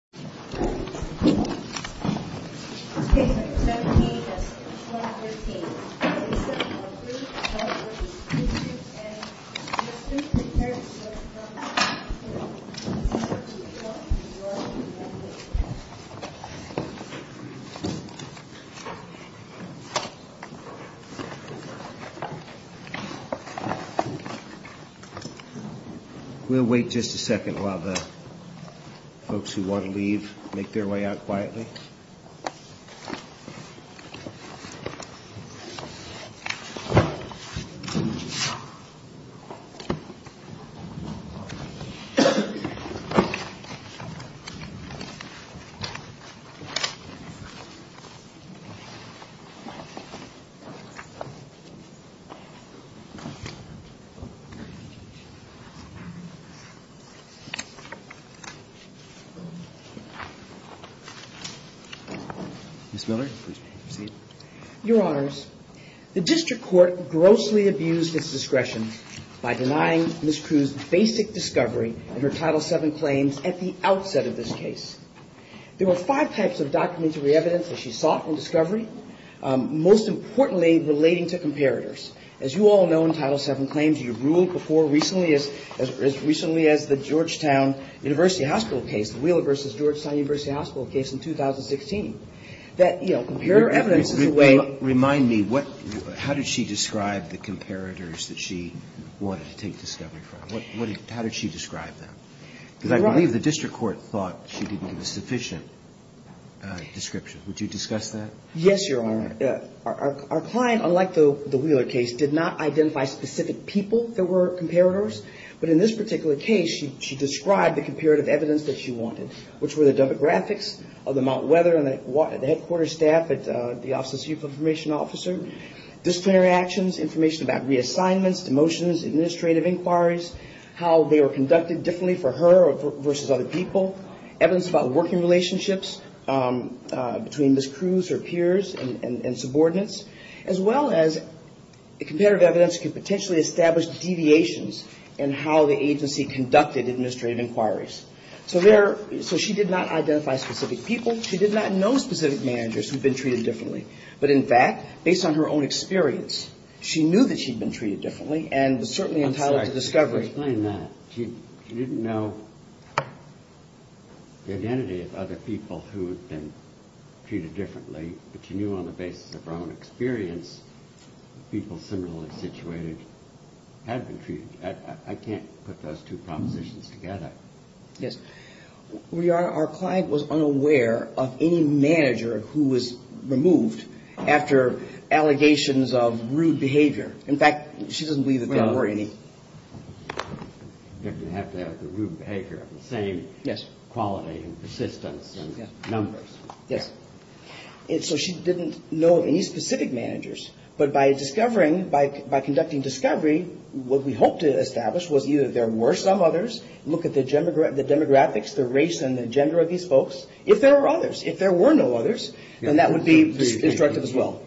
September 17, 2013 Lisa Cruz v. Kirstjen Nielsen prepares to welcome President Trump to Washington, D.C. We'll wait just a second while the folks who want to leave make their way out quietly. Ms. Miller, please proceed. Your Honors, the District Court grossly abused its discretion by denying Ms. Cruz basic discovery in her Title VII claims at the outset of this case. There were five types of documentary evidence that she sought from discovery, most importantly relating to comparators. As you all know in Title VII claims, you've ruled before recently as recently as the Georgetown University Hospital case, the Wheeler v. Georgetown University Hospital case in 2016, that, you know, comparator evidence is a way. Remind me, how did she describe the comparators that she wanted to take discovery from? How did she describe them? Because I believe the District Court thought she didn't give a sufficient description. Would you discuss that? Yes, Your Honor. Our client, unlike the Wheeler case, did not identify specific people that were comparators. But in this particular case, she described the comparative evidence that she wanted, which were the demographics of the Mount Weather and the headquarters staff at the Office of the Chief Information Officer, disciplinary actions, information about reassignments, demotions, administrative inquiries, how they were conducted differently for her versus other people, evidence about working relationships between Ms. Cruz, her peers, and subordinates, as well as comparative evidence could potentially establish deviations in how the agency conducted administrative inquiries. So she did not identify specific people. She did not know specific managers who had been treated differently. But in fact, based on her own experience, she knew that she'd been treated differently and was certainly entitled to discovery. I'm sorry. Can you explain that? She didn't know the identity of other people who had been treated differently, but she knew on the basis of her own experience, people similarly situated had been treated. I can't put those two propositions together. Yes. Your Honor, our client was unaware of any manager who was removed after allegations of rude behavior. In fact, she doesn't believe that there were any. You have to have the rude behavior of the same quality and persistence and numbers. Yes. So she didn't know of any specific managers. But by discovering, by conducting discovery, what we hope to establish was either there were some others. Look at the demographics, the race and the gender of these folks. If there are others, if there were no others, then that would be instructive as well.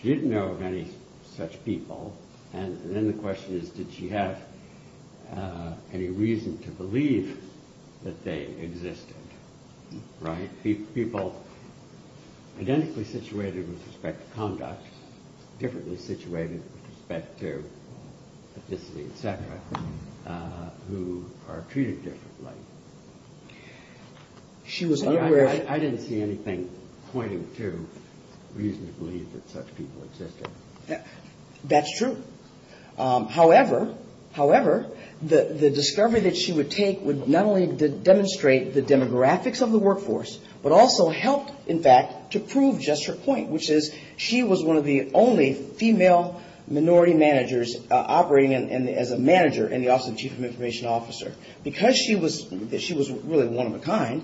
She didn't know of any such people. And then the question is, did she have any reason to believe that they existed? People identically situated with respect to conduct, differently situated with respect to ethnicity, etc., who are treated differently. I didn't see anything pointing to reason to believe that such people existed. That's true. However, the discovery that she would take would not only demonstrate the demographics of the workforce, but also help, in fact, to prove just her point, which is she was one of the only female minority managers operating as a manager in the Office of the Chief of Information Officer. Because she was really one of a kind,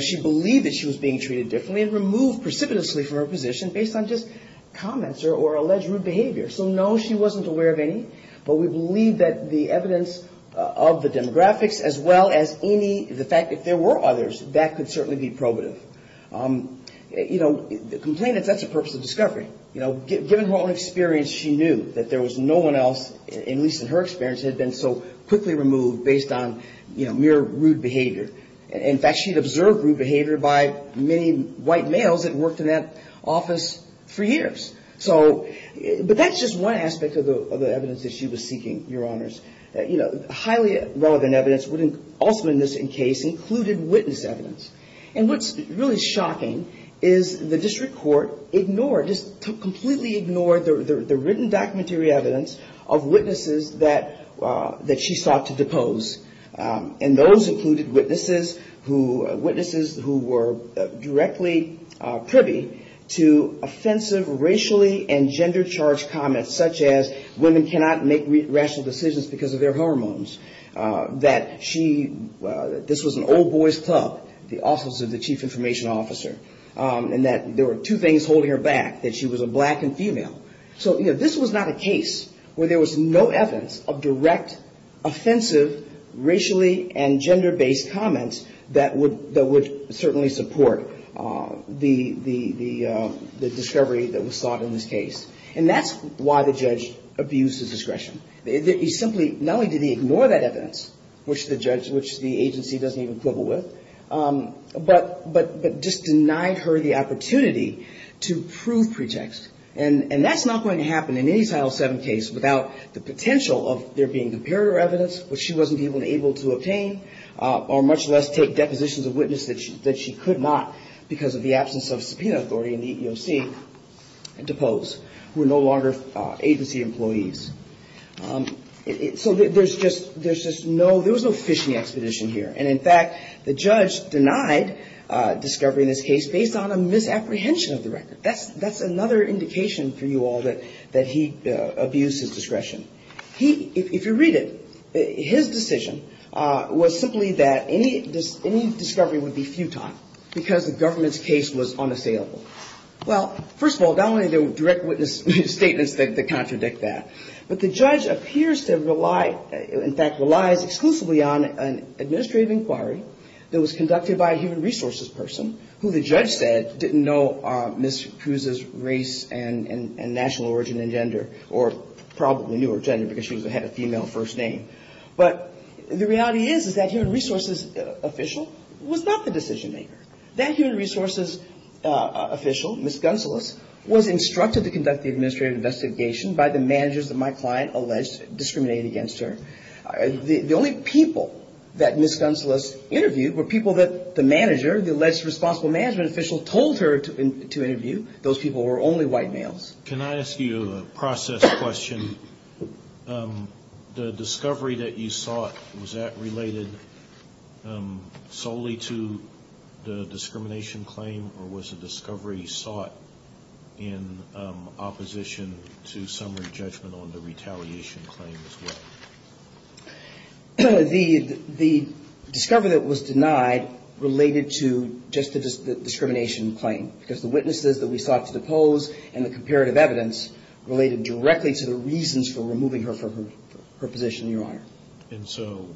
she believed that she was being treated differently and removed precipitously from her position based on just comments or alleged rude behavior. So no, she wasn't aware of any, but we believe that the evidence of the demographics, as well as any, the fact that there were others, that could certainly be probative. Complainants, that's a purpose of discovery. Given her own experience, she knew that there was no one else, at least in her experience, had been so quickly removed based on mere rude behavior. In fact, she'd observed rude behavior by many white males that worked in that office for years. So, but that's just one aspect of the evidence that she was seeking, Your Honors. Highly relevant evidence, also in this case, included witness evidence. And what's really shocking is the district court ignored, just completely ignored the written documentary evidence of witnesses that she sought to depose. And those included witnesses who, witnesses who were directly privy to offensive racially and gender charged comments, such as women cannot make rational decisions because of their hormones. That she, this was an old boy's club, the Office of the Chief Information Officer. And that there were two things holding her back, that she was a black and female. So, you know, this was not a case where there was no evidence of direct offensive racially and gender based comments that would certainly support the discovery that was sought in this case. And that's why the judge abused his discretion. He simply, not only did he ignore that evidence, which the judge, which the agency doesn't even quibble with, but just denied her the opportunity to prove pretext. And that's not going to happen in any Title VII case without the potential of their being compared to her evidence, which she wasn't even able to obtain, or much less take depositions of witness that she could not because of the absence of subpoena authority in the EEOC, depose, who are no longer agency employees. So there's just no, there was no fish in the expedition here. And in fact, the judge denied discovery in this case based on a misapprehension of the record. That's another indication for you all that he abused his discretion. He, if you read it, his decision was simply that any discovery would be futile because the government's case was unassailable. Well, first of all, not only the direct witness statements that contradict that, but the judge appears to rely, in fact, relies exclusively on an administrative inquiry that was conducted by a human resources person who the judge said didn't know Ms. Kuz's race and national origin and gender, or probably knew her gender because she had a female first name. But the reality is, is that human resources official was not the decision maker. That human resources official, Ms. Gunseless, was instructed to conduct the administrative investigation by the managers that my client alleged discriminated against her. The only people that Ms. Gunseless interviewed were people that the manager, the alleged responsible management official, told her to do. The discovery that you sought, was that related solely to the discrimination claim, or was the discovery sought in opposition to summary judgment on the retaliation claim as well? The discovery that was denied related to just the discrimination claim, because the witnesses that we sought to depose and the comparative evidence related directly to the retaliation claim. And so,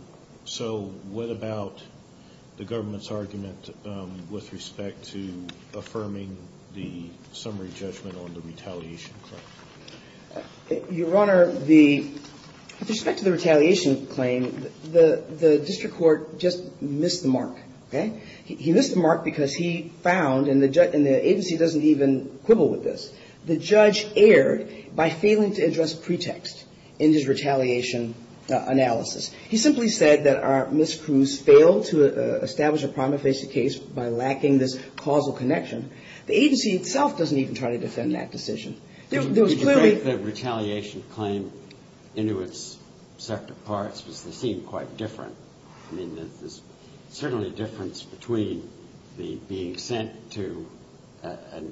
what about the government's argument with respect to affirming the summary judgment on the retaliation claim? Your Honor, the, with respect to the retaliation claim, the district court just missed the mark, okay? He missed the mark because he found, and the agency doesn't even have a just pretext in his retaliation analysis. He simply said that Ms. Cruz failed to establish a prima facie case by lacking this causal connection. The agency itself doesn't even try to defend that decision. The retaliation claim into its separate parts seemed quite different. I mean, there's certainly a difference between being sent to a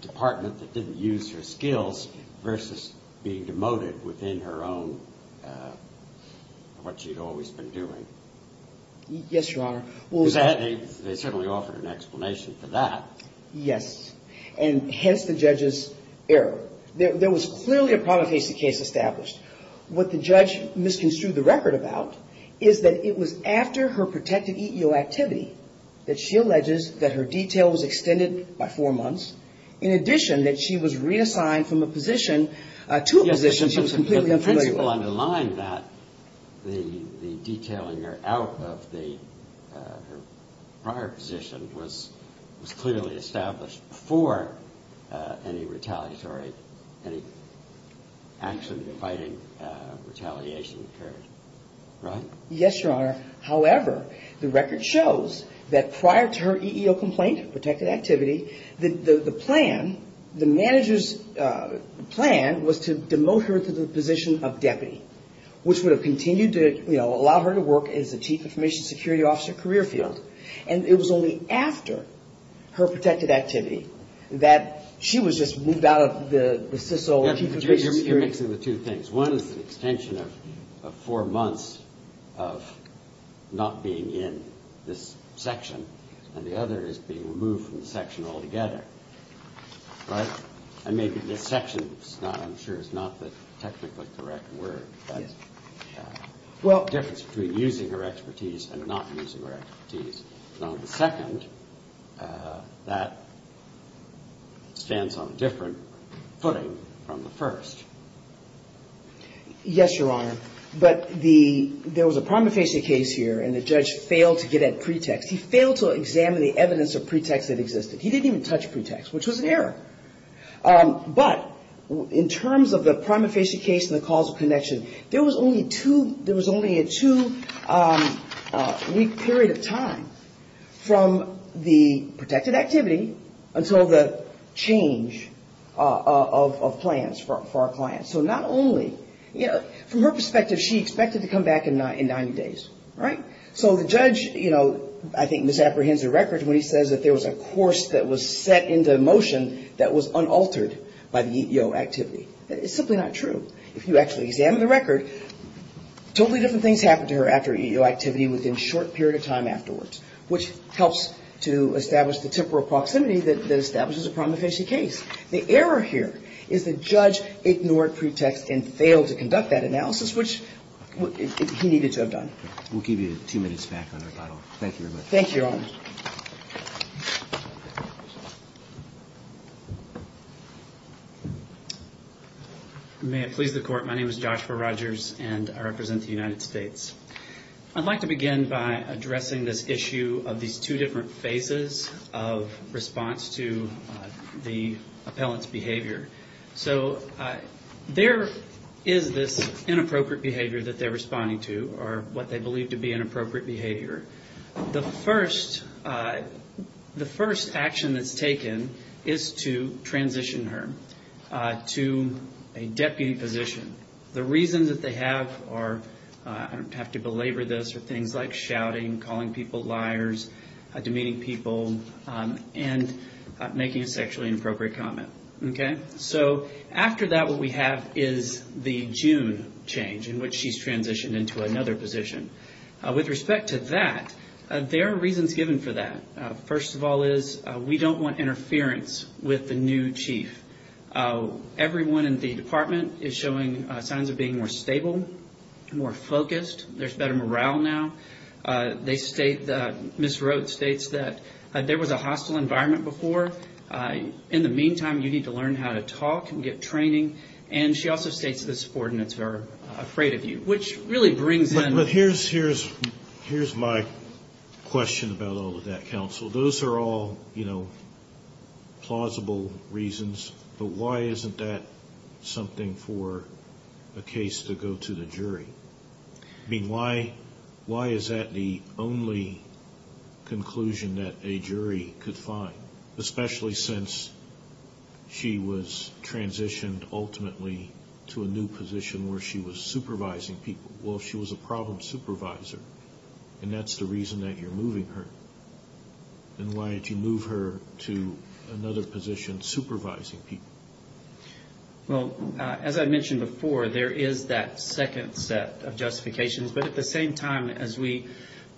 department that didn't use her and being demoted within her own, what she'd always been doing. Yes, Your Honor. And hence, the judge's error. There was clearly a prima facie case established. What the judge misconstrued the record about is that it was after her protective EEO activity that she alleges that her detail was extended by four months. In addition, that she was reassigned from a position to a position she was completely unfamiliar with. Yes, but the principle underlined that the detailing her out of her prior position was clearly established before any retaliatory, any action-inviting retaliation occurred, right? Yes, Your Honor. However, the record shows that prior to her EEO complaint, her protective activity, the plan, the manager's plan was to bring her back to the position of deputy, which would have continued to, you know, allow her to work as a chief information security officer career field. And it was only after her protected activity that she was just moved out of the CISO chief information security. You're mixing the two things. One is the extension of four months of not being in this section, and the other is being removed from the section altogether, right? And maybe this section, I'm sure, is not the technically correct word, but the difference between using her expertise and not using her expertise. And on the second, that stands on a different footing from the first. Yes, Your Honor. But there was a prima facie case here, and the judge failed to get at pretext. He failed to examine the evidence of pretext that existed. He didn't even touch pretext, which was an error. But in terms of the prima facie case and the causal connection, there was only a two-week period of time from the protected activity until the change of plans for our clients. So not only, you know, from her perspective, she expected to come back in 90 days, right? So the judge, you know, I think misapprehends the record when he says that there was a course that was set into motion that was unaltered by the EEO activity. It's simply not true. If you actually examine the record, totally different things happened to her after EEO activity within a short period of time afterwards, which helps to establish the temporal proximity that establishes a prima facie case. The error here is the judge ignored pretext and failed to conduct that analysis, which he needed to have done. We'll give you two minutes back on our panel. Thank you very much. May it please the Court. My name is Joshua Rogers, and I represent the United States. I'd like to begin by addressing this issue of these two different phases of response to the appellant's behavior. So there is this inappropriate behavior that they're responding to, or what they believe to be inappropriate behavior. The first action that's taken is to transition her to a deputy position. The reasons that they have are, I don't have to belabor this, are things like shouting, calling people liars, demeaning people, and making a sexually inappropriate comment, okay? So after that, what we have is the June change, in which she's transitioned into another position. With respect to that, there are reasons given for that. First of all is, we don't want interference with the new chief. Everyone in the department is showing signs of being more stable, more focused, there's better morale now. They state, Ms. Rhodes states, that there was a hostile environment before. In the meantime, you need to learn how to talk to the new chief. You need to learn how to talk and get training. And she also states that this ordinance is very afraid of you, which really brings in... But here's my question about all of that, counsel. Those are all, you know, plausible reasons, but why isn't that something for a case to go to the jury? I mean, why is that the only conclusion that a jury could find? Especially since she was transitioned ultimately to a new position where she was supervising people. Well, if she was a problem supervisor, and that's the reason that you're moving her, then why don't you move her to another position supervising people? Well, as I mentioned before, there is that second set of justifications. But at the same time, as we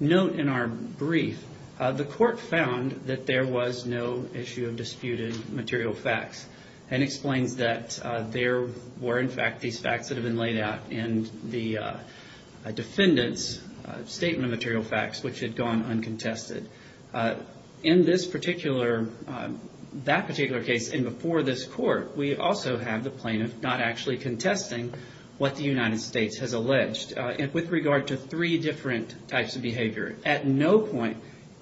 note in our brief, the court found that there was no issue with Ms. Rhodes. There was no issue of disputed material facts. And explains that there were, in fact, these facts that have been laid out in the defendant's statement of material facts, which had gone uncontested. In this particular, that particular case and before this court, we also have the plaintiff not actually contesting what the United States has alleged with regard to three different types of behavior. At no point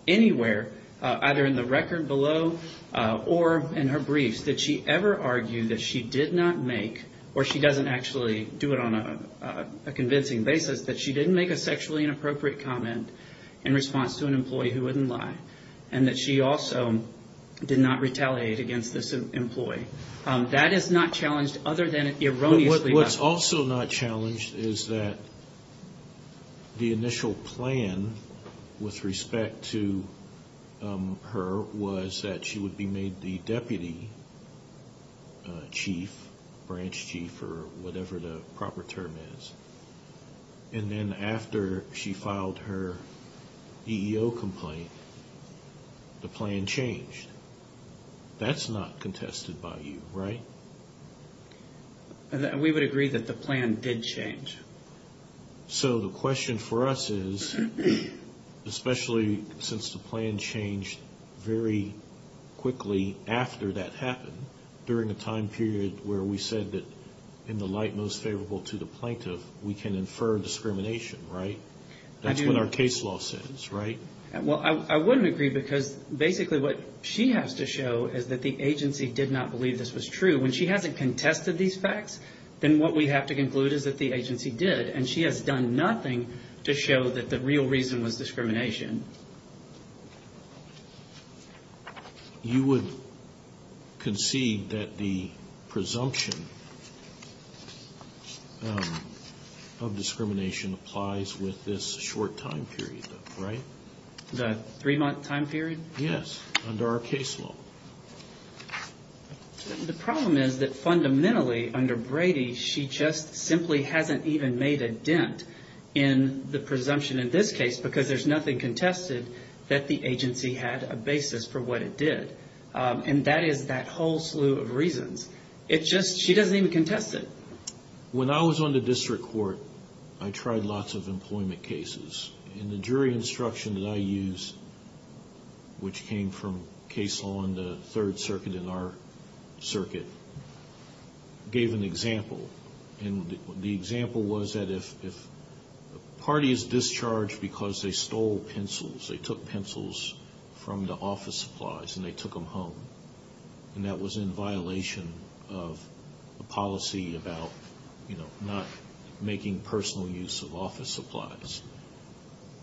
anywhere, either in the record below or in her briefs, did she ever argue that she did not make, or she doesn't actually do it on a convincing basis, that she didn't make a sexually inappropriate comment in response to an employee who wouldn't lie. And that she also did not retaliate against this employee. That is not challenged other than erroneously. What's also not challenged is that the initial plan with respect to her was that she would be made the deputy chief, branch chief, or whatever the proper term is. And then after she filed her EEO complaint, the plan changed. That's not contested by you, right? We would agree that the plan did change. So the question for us is, especially since the plan changed very quickly after that happened, during a time period where we said that in the light most favorable to the plaintiff, we can infer discrimination, right? That's what our case law says, right? Well, I wouldn't agree, because basically what she has to show is that the agency did not believe this was true. When she hasn't contested these facts, then what we have to conclude is that the agency did, and she has done nothing to show that the real reason was discrimination. You would concede that the presumption of discrimination applies with this short time period, right? The three-month time period? Yes, under our case law. The problem is that fundamentally under Brady, she just simply hasn't even made a dent in the presumption in this case, because there's nothing contested that the agency had a basis for what it did. And that is that whole slew of reasons. It's just she doesn't even contest it. When I was on the district court, I tried lots of employment cases. And the jury instruction that I used, which came from case law in the Third Circuit and our circuit, gave an example. And the example was that if a party is discharged because they stole pencils, they took pencils from the office supplies and they took them home, and that was in violation of the policy about not making personal use of office supplies.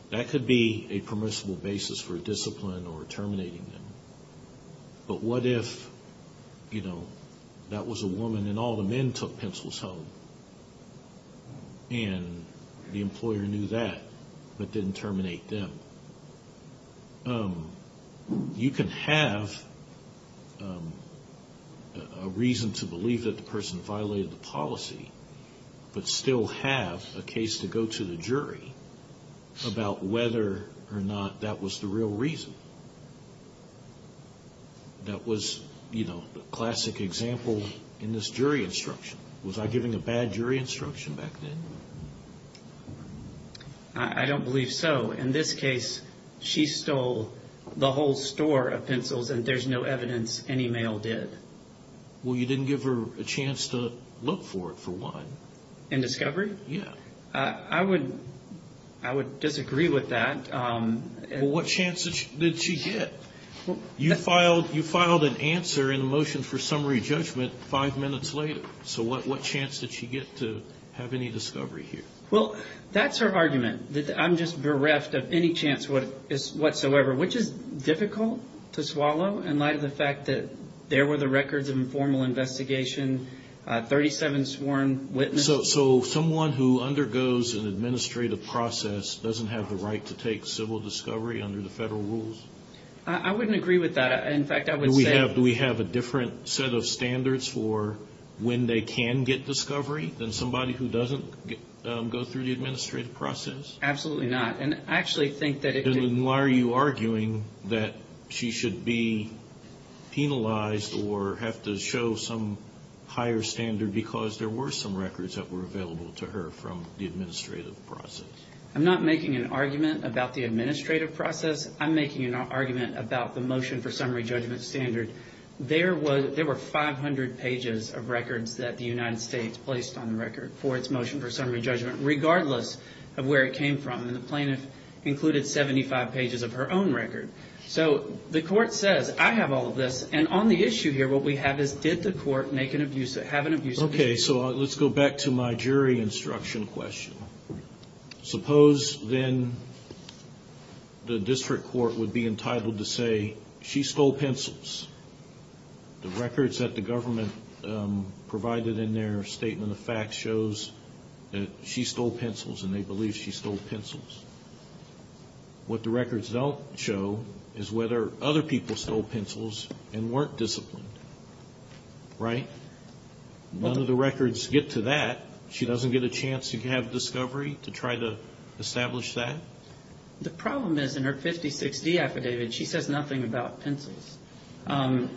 That could be a permissible basis for discipline or terminating them. But what if, you know, that was a woman and all the men took pencils home, and the employer knew that, but didn't terminate them? You can have a reason to believe that the person violated the policy, but still have a case to go to the jury. And I don't know about whether or not that was the real reason. That was, you know, the classic example in this jury instruction. Was I giving a bad jury instruction back then? I don't believe so. In this case, she stole the whole store of pencils, and there's no evidence any male did. Well, you didn't give her a chance to look for it, for one. In discovery? Yeah. I would disagree with that. Well, what chance did she get? You filed an answer in the motion for summary judgment five minutes later. So what chance did she get to have any discovery here? Well, that's her argument, that I'm just bereft of any chance whatsoever, which is difficult to swallow in light of the fact that there were the records of an informal investigation, 37 sworn witnesses. So someone who undergoes an administrative process doesn't have the right to take civil discovery under the federal rules? I wouldn't agree with that. Do we have a different set of standards for when they can get discovery than somebody who doesn't go through the administrative process? Absolutely not. And why are you arguing that she should be penalized or have to show some higher standard because there were some records that were available to her from the administrative process? I'm not making an argument about the administrative process. I'm making an argument about the motion for summary judgment standard. There were 500 pages of records that the United States placed on the record for its motion for summary judgment, regardless of where it came from. And the plaintiff included 75 pages of her own record. So the court says, I have all of this. And on the issue here, what we have is, did the court make an abuse of it, have an abuse of it? Okay, so let's go back to my jury instruction question. Suppose then the district court would be entitled to say, she stole pencils. The records that the government provided in their statement of facts shows that she stole pencils and they believe she stole pencils. What the records don't show is whether other people stole pencils and weren't disciplined, right? None of the records get to that. She doesn't get a chance to have discovery to try to establish that? The problem is, in her 56D affidavit, she says nothing about pencils.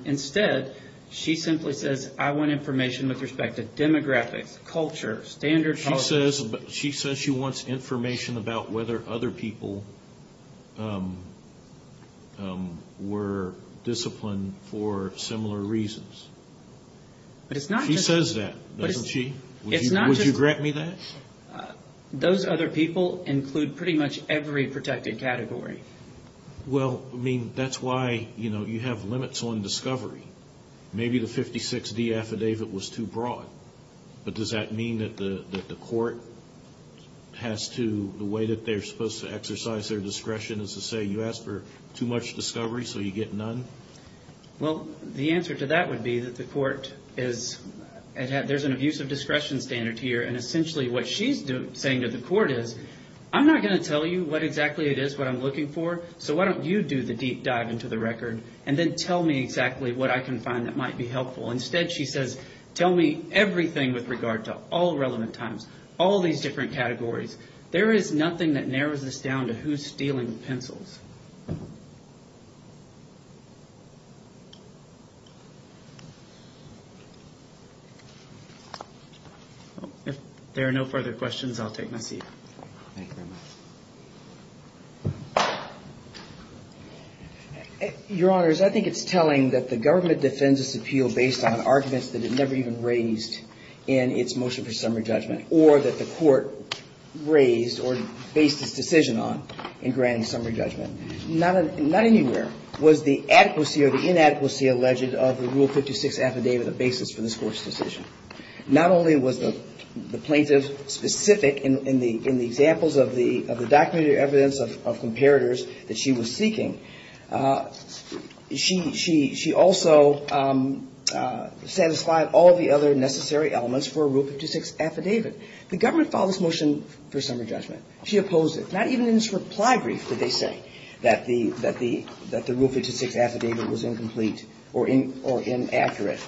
Instead, she simply says, I want information with respect to demographics, culture, standard policies. She says she wants information about whether other people were disciplined for similar reasons. She says that, doesn't she? Would you grant me that? Those other people include pretty much every protected category. Well, I mean, that's why you have limits on discovery. Maybe the 56D affidavit was too broad, but does that mean that the court has to, the way that they're supposed to exercise their discretion is to say, you asked for too much discovery, so you get none? Well, the answer to that would be that the court is, there's an abuse of discretion standard here, and essentially what she's saying to the court is, I'm not going to tell you what exactly it is what I'm looking for, so why don't you do the deep dive into the record, and then tell me exactly what I can find that might be helpful. Instead, she says, tell me everything with regard to all relevant times, all these different categories. There is nothing that narrows this down to who's stealing pencils. If there are no further questions, I'll take my seat. Your Honors, I think it's telling that the government defends this appeal based on arguments that it never even raised in its motion for summary judgment, or that the court raised or based its decision on in granting summary judgment. Not anywhere was the adequacy or the inadequacy alleged of the Rule 56 affidavit a basis for this Court's decision. Not only was the plaintiff specific in the examples of the documented evidence of comparators that she had, that she was seeking, she also satisfied all the other necessary elements for a Rule 56 affidavit. The government filed this motion for summary judgment. She opposed it. Not even in its reply brief did they say that the Rule 56 affidavit was incomplete or inaccurate.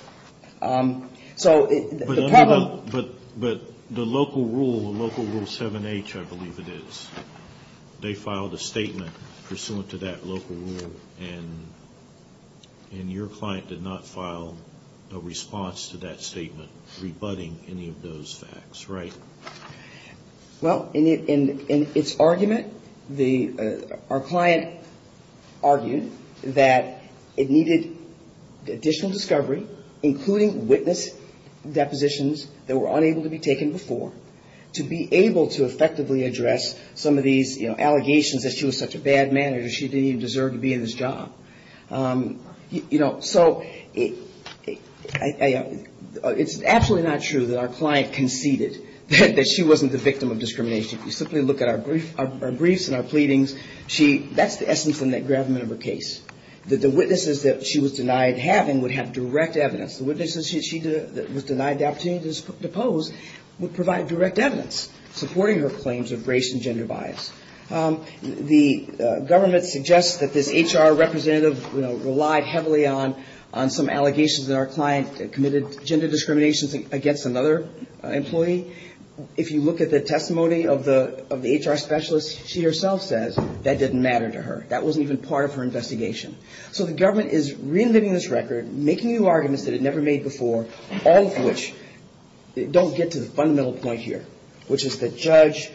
So the problem... But the local rule, Local Rule 7H, I believe it is, they filed a statement pursuant to that local rule, and your client did not file a response to that statement rebutting any of those facts, right? Well, in its argument, our client argued that it needed additional discovery, additional evidence, additional evidence, additional evidence, including witness depositions that were unable to be taken before, to be able to effectively address some of these, you know, allegations that she was such a bad manager, she didn't even deserve to be in this job. You know, so it's absolutely not true that our client conceded that she wasn't the victim of discrimination. If you simply look at our briefs and our pleadings, she... The essence and the gravamen of her case, that the witnesses that she was denied having would have direct evidence. The witnesses that she was denied the opportunity to pose would provide direct evidence supporting her claims of race and gender bias. The government suggests that this HR representative, you know, relied heavily on some allegations that our client committed gender discrimination against another employee. If you look at the testimony of the HR specialist, she herself says that didn't matter to her. That wasn't even part of her investigation. So the government is reinventing this record, making new arguments that it never made before, all of which don't get to the fundamental point here, which is that judge,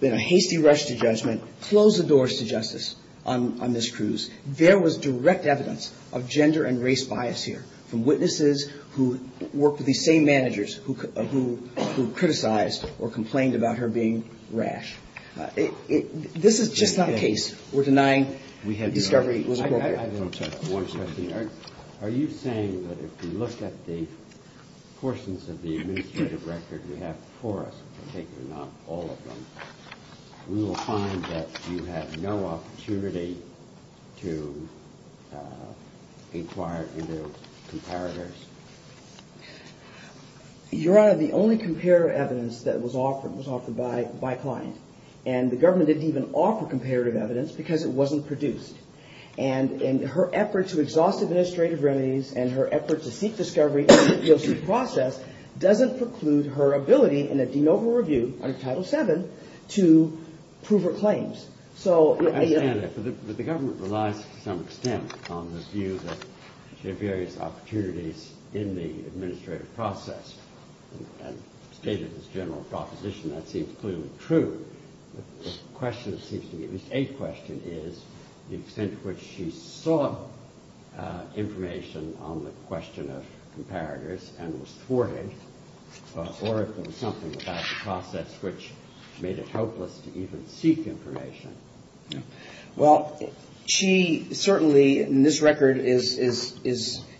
in a hasty rush to judgment, closed the doors to justice on Ms. Cruz. There was direct evidence of gender and race bias here, from witnesses who worked with these same managers who criticized or complained about her being rash. This is just not the case. We're denying discovery. Are you saying that if we look at the portions of the administrative record we have for us, not all of them, we will find that you had no opportunity to inquire into comparators? Your Honor, the only comparator evidence that was offered was offered by client. And the government didn't even offer comparator evidence because it wasn't produced. And her effort to exhaust administrative remedies and her effort to seek discovery in the EEOC process doesn't preclude her ability in a de novo review under Title VII to prove her claims. So... Your Honor, the government relies to some extent on the view that she had various opportunities in the administrative process. And stated in this general proposition, that seems clearly true. The question, at least a question, is the extent to which she sought information on the question of comparators and was thwarted, or if there was something about the process which made it hopeless to even seek information. Well, she certainly, in this record, is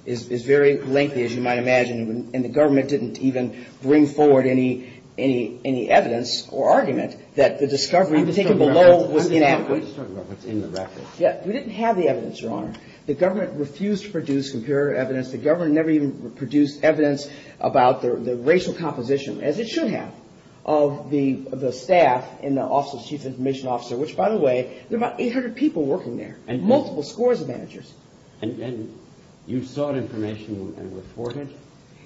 very lengthy, as you might imagine. And the government didn't even bring forward any evidence or argument that the discovery taken below was inadequate. We didn't have the evidence, Your Honor. The government refused to produce comparator evidence. The government never even produced evidence about the racial composition, as it should have, of the staff and the chief information officer, which, by the way, there are about 800 people working there and multiple scores of managers. And you sought information and were thwarted?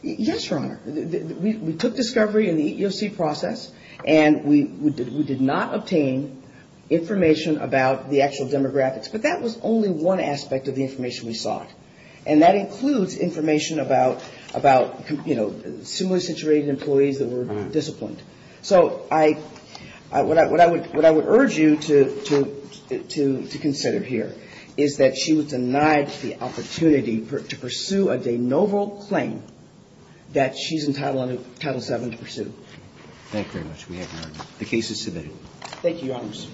Yes, Your Honor. We took discovery in the EEOC process and we did not obtain information about the actual demographics. But that was only one aspect of the information we sought. And that includes information about, you know, similarly situated employees that were disciplined. So what I would urge you to consider here is that she was denied the opportunity to pursue a de novo claim that she's entitled under Title VII to pursue. Thank you very much.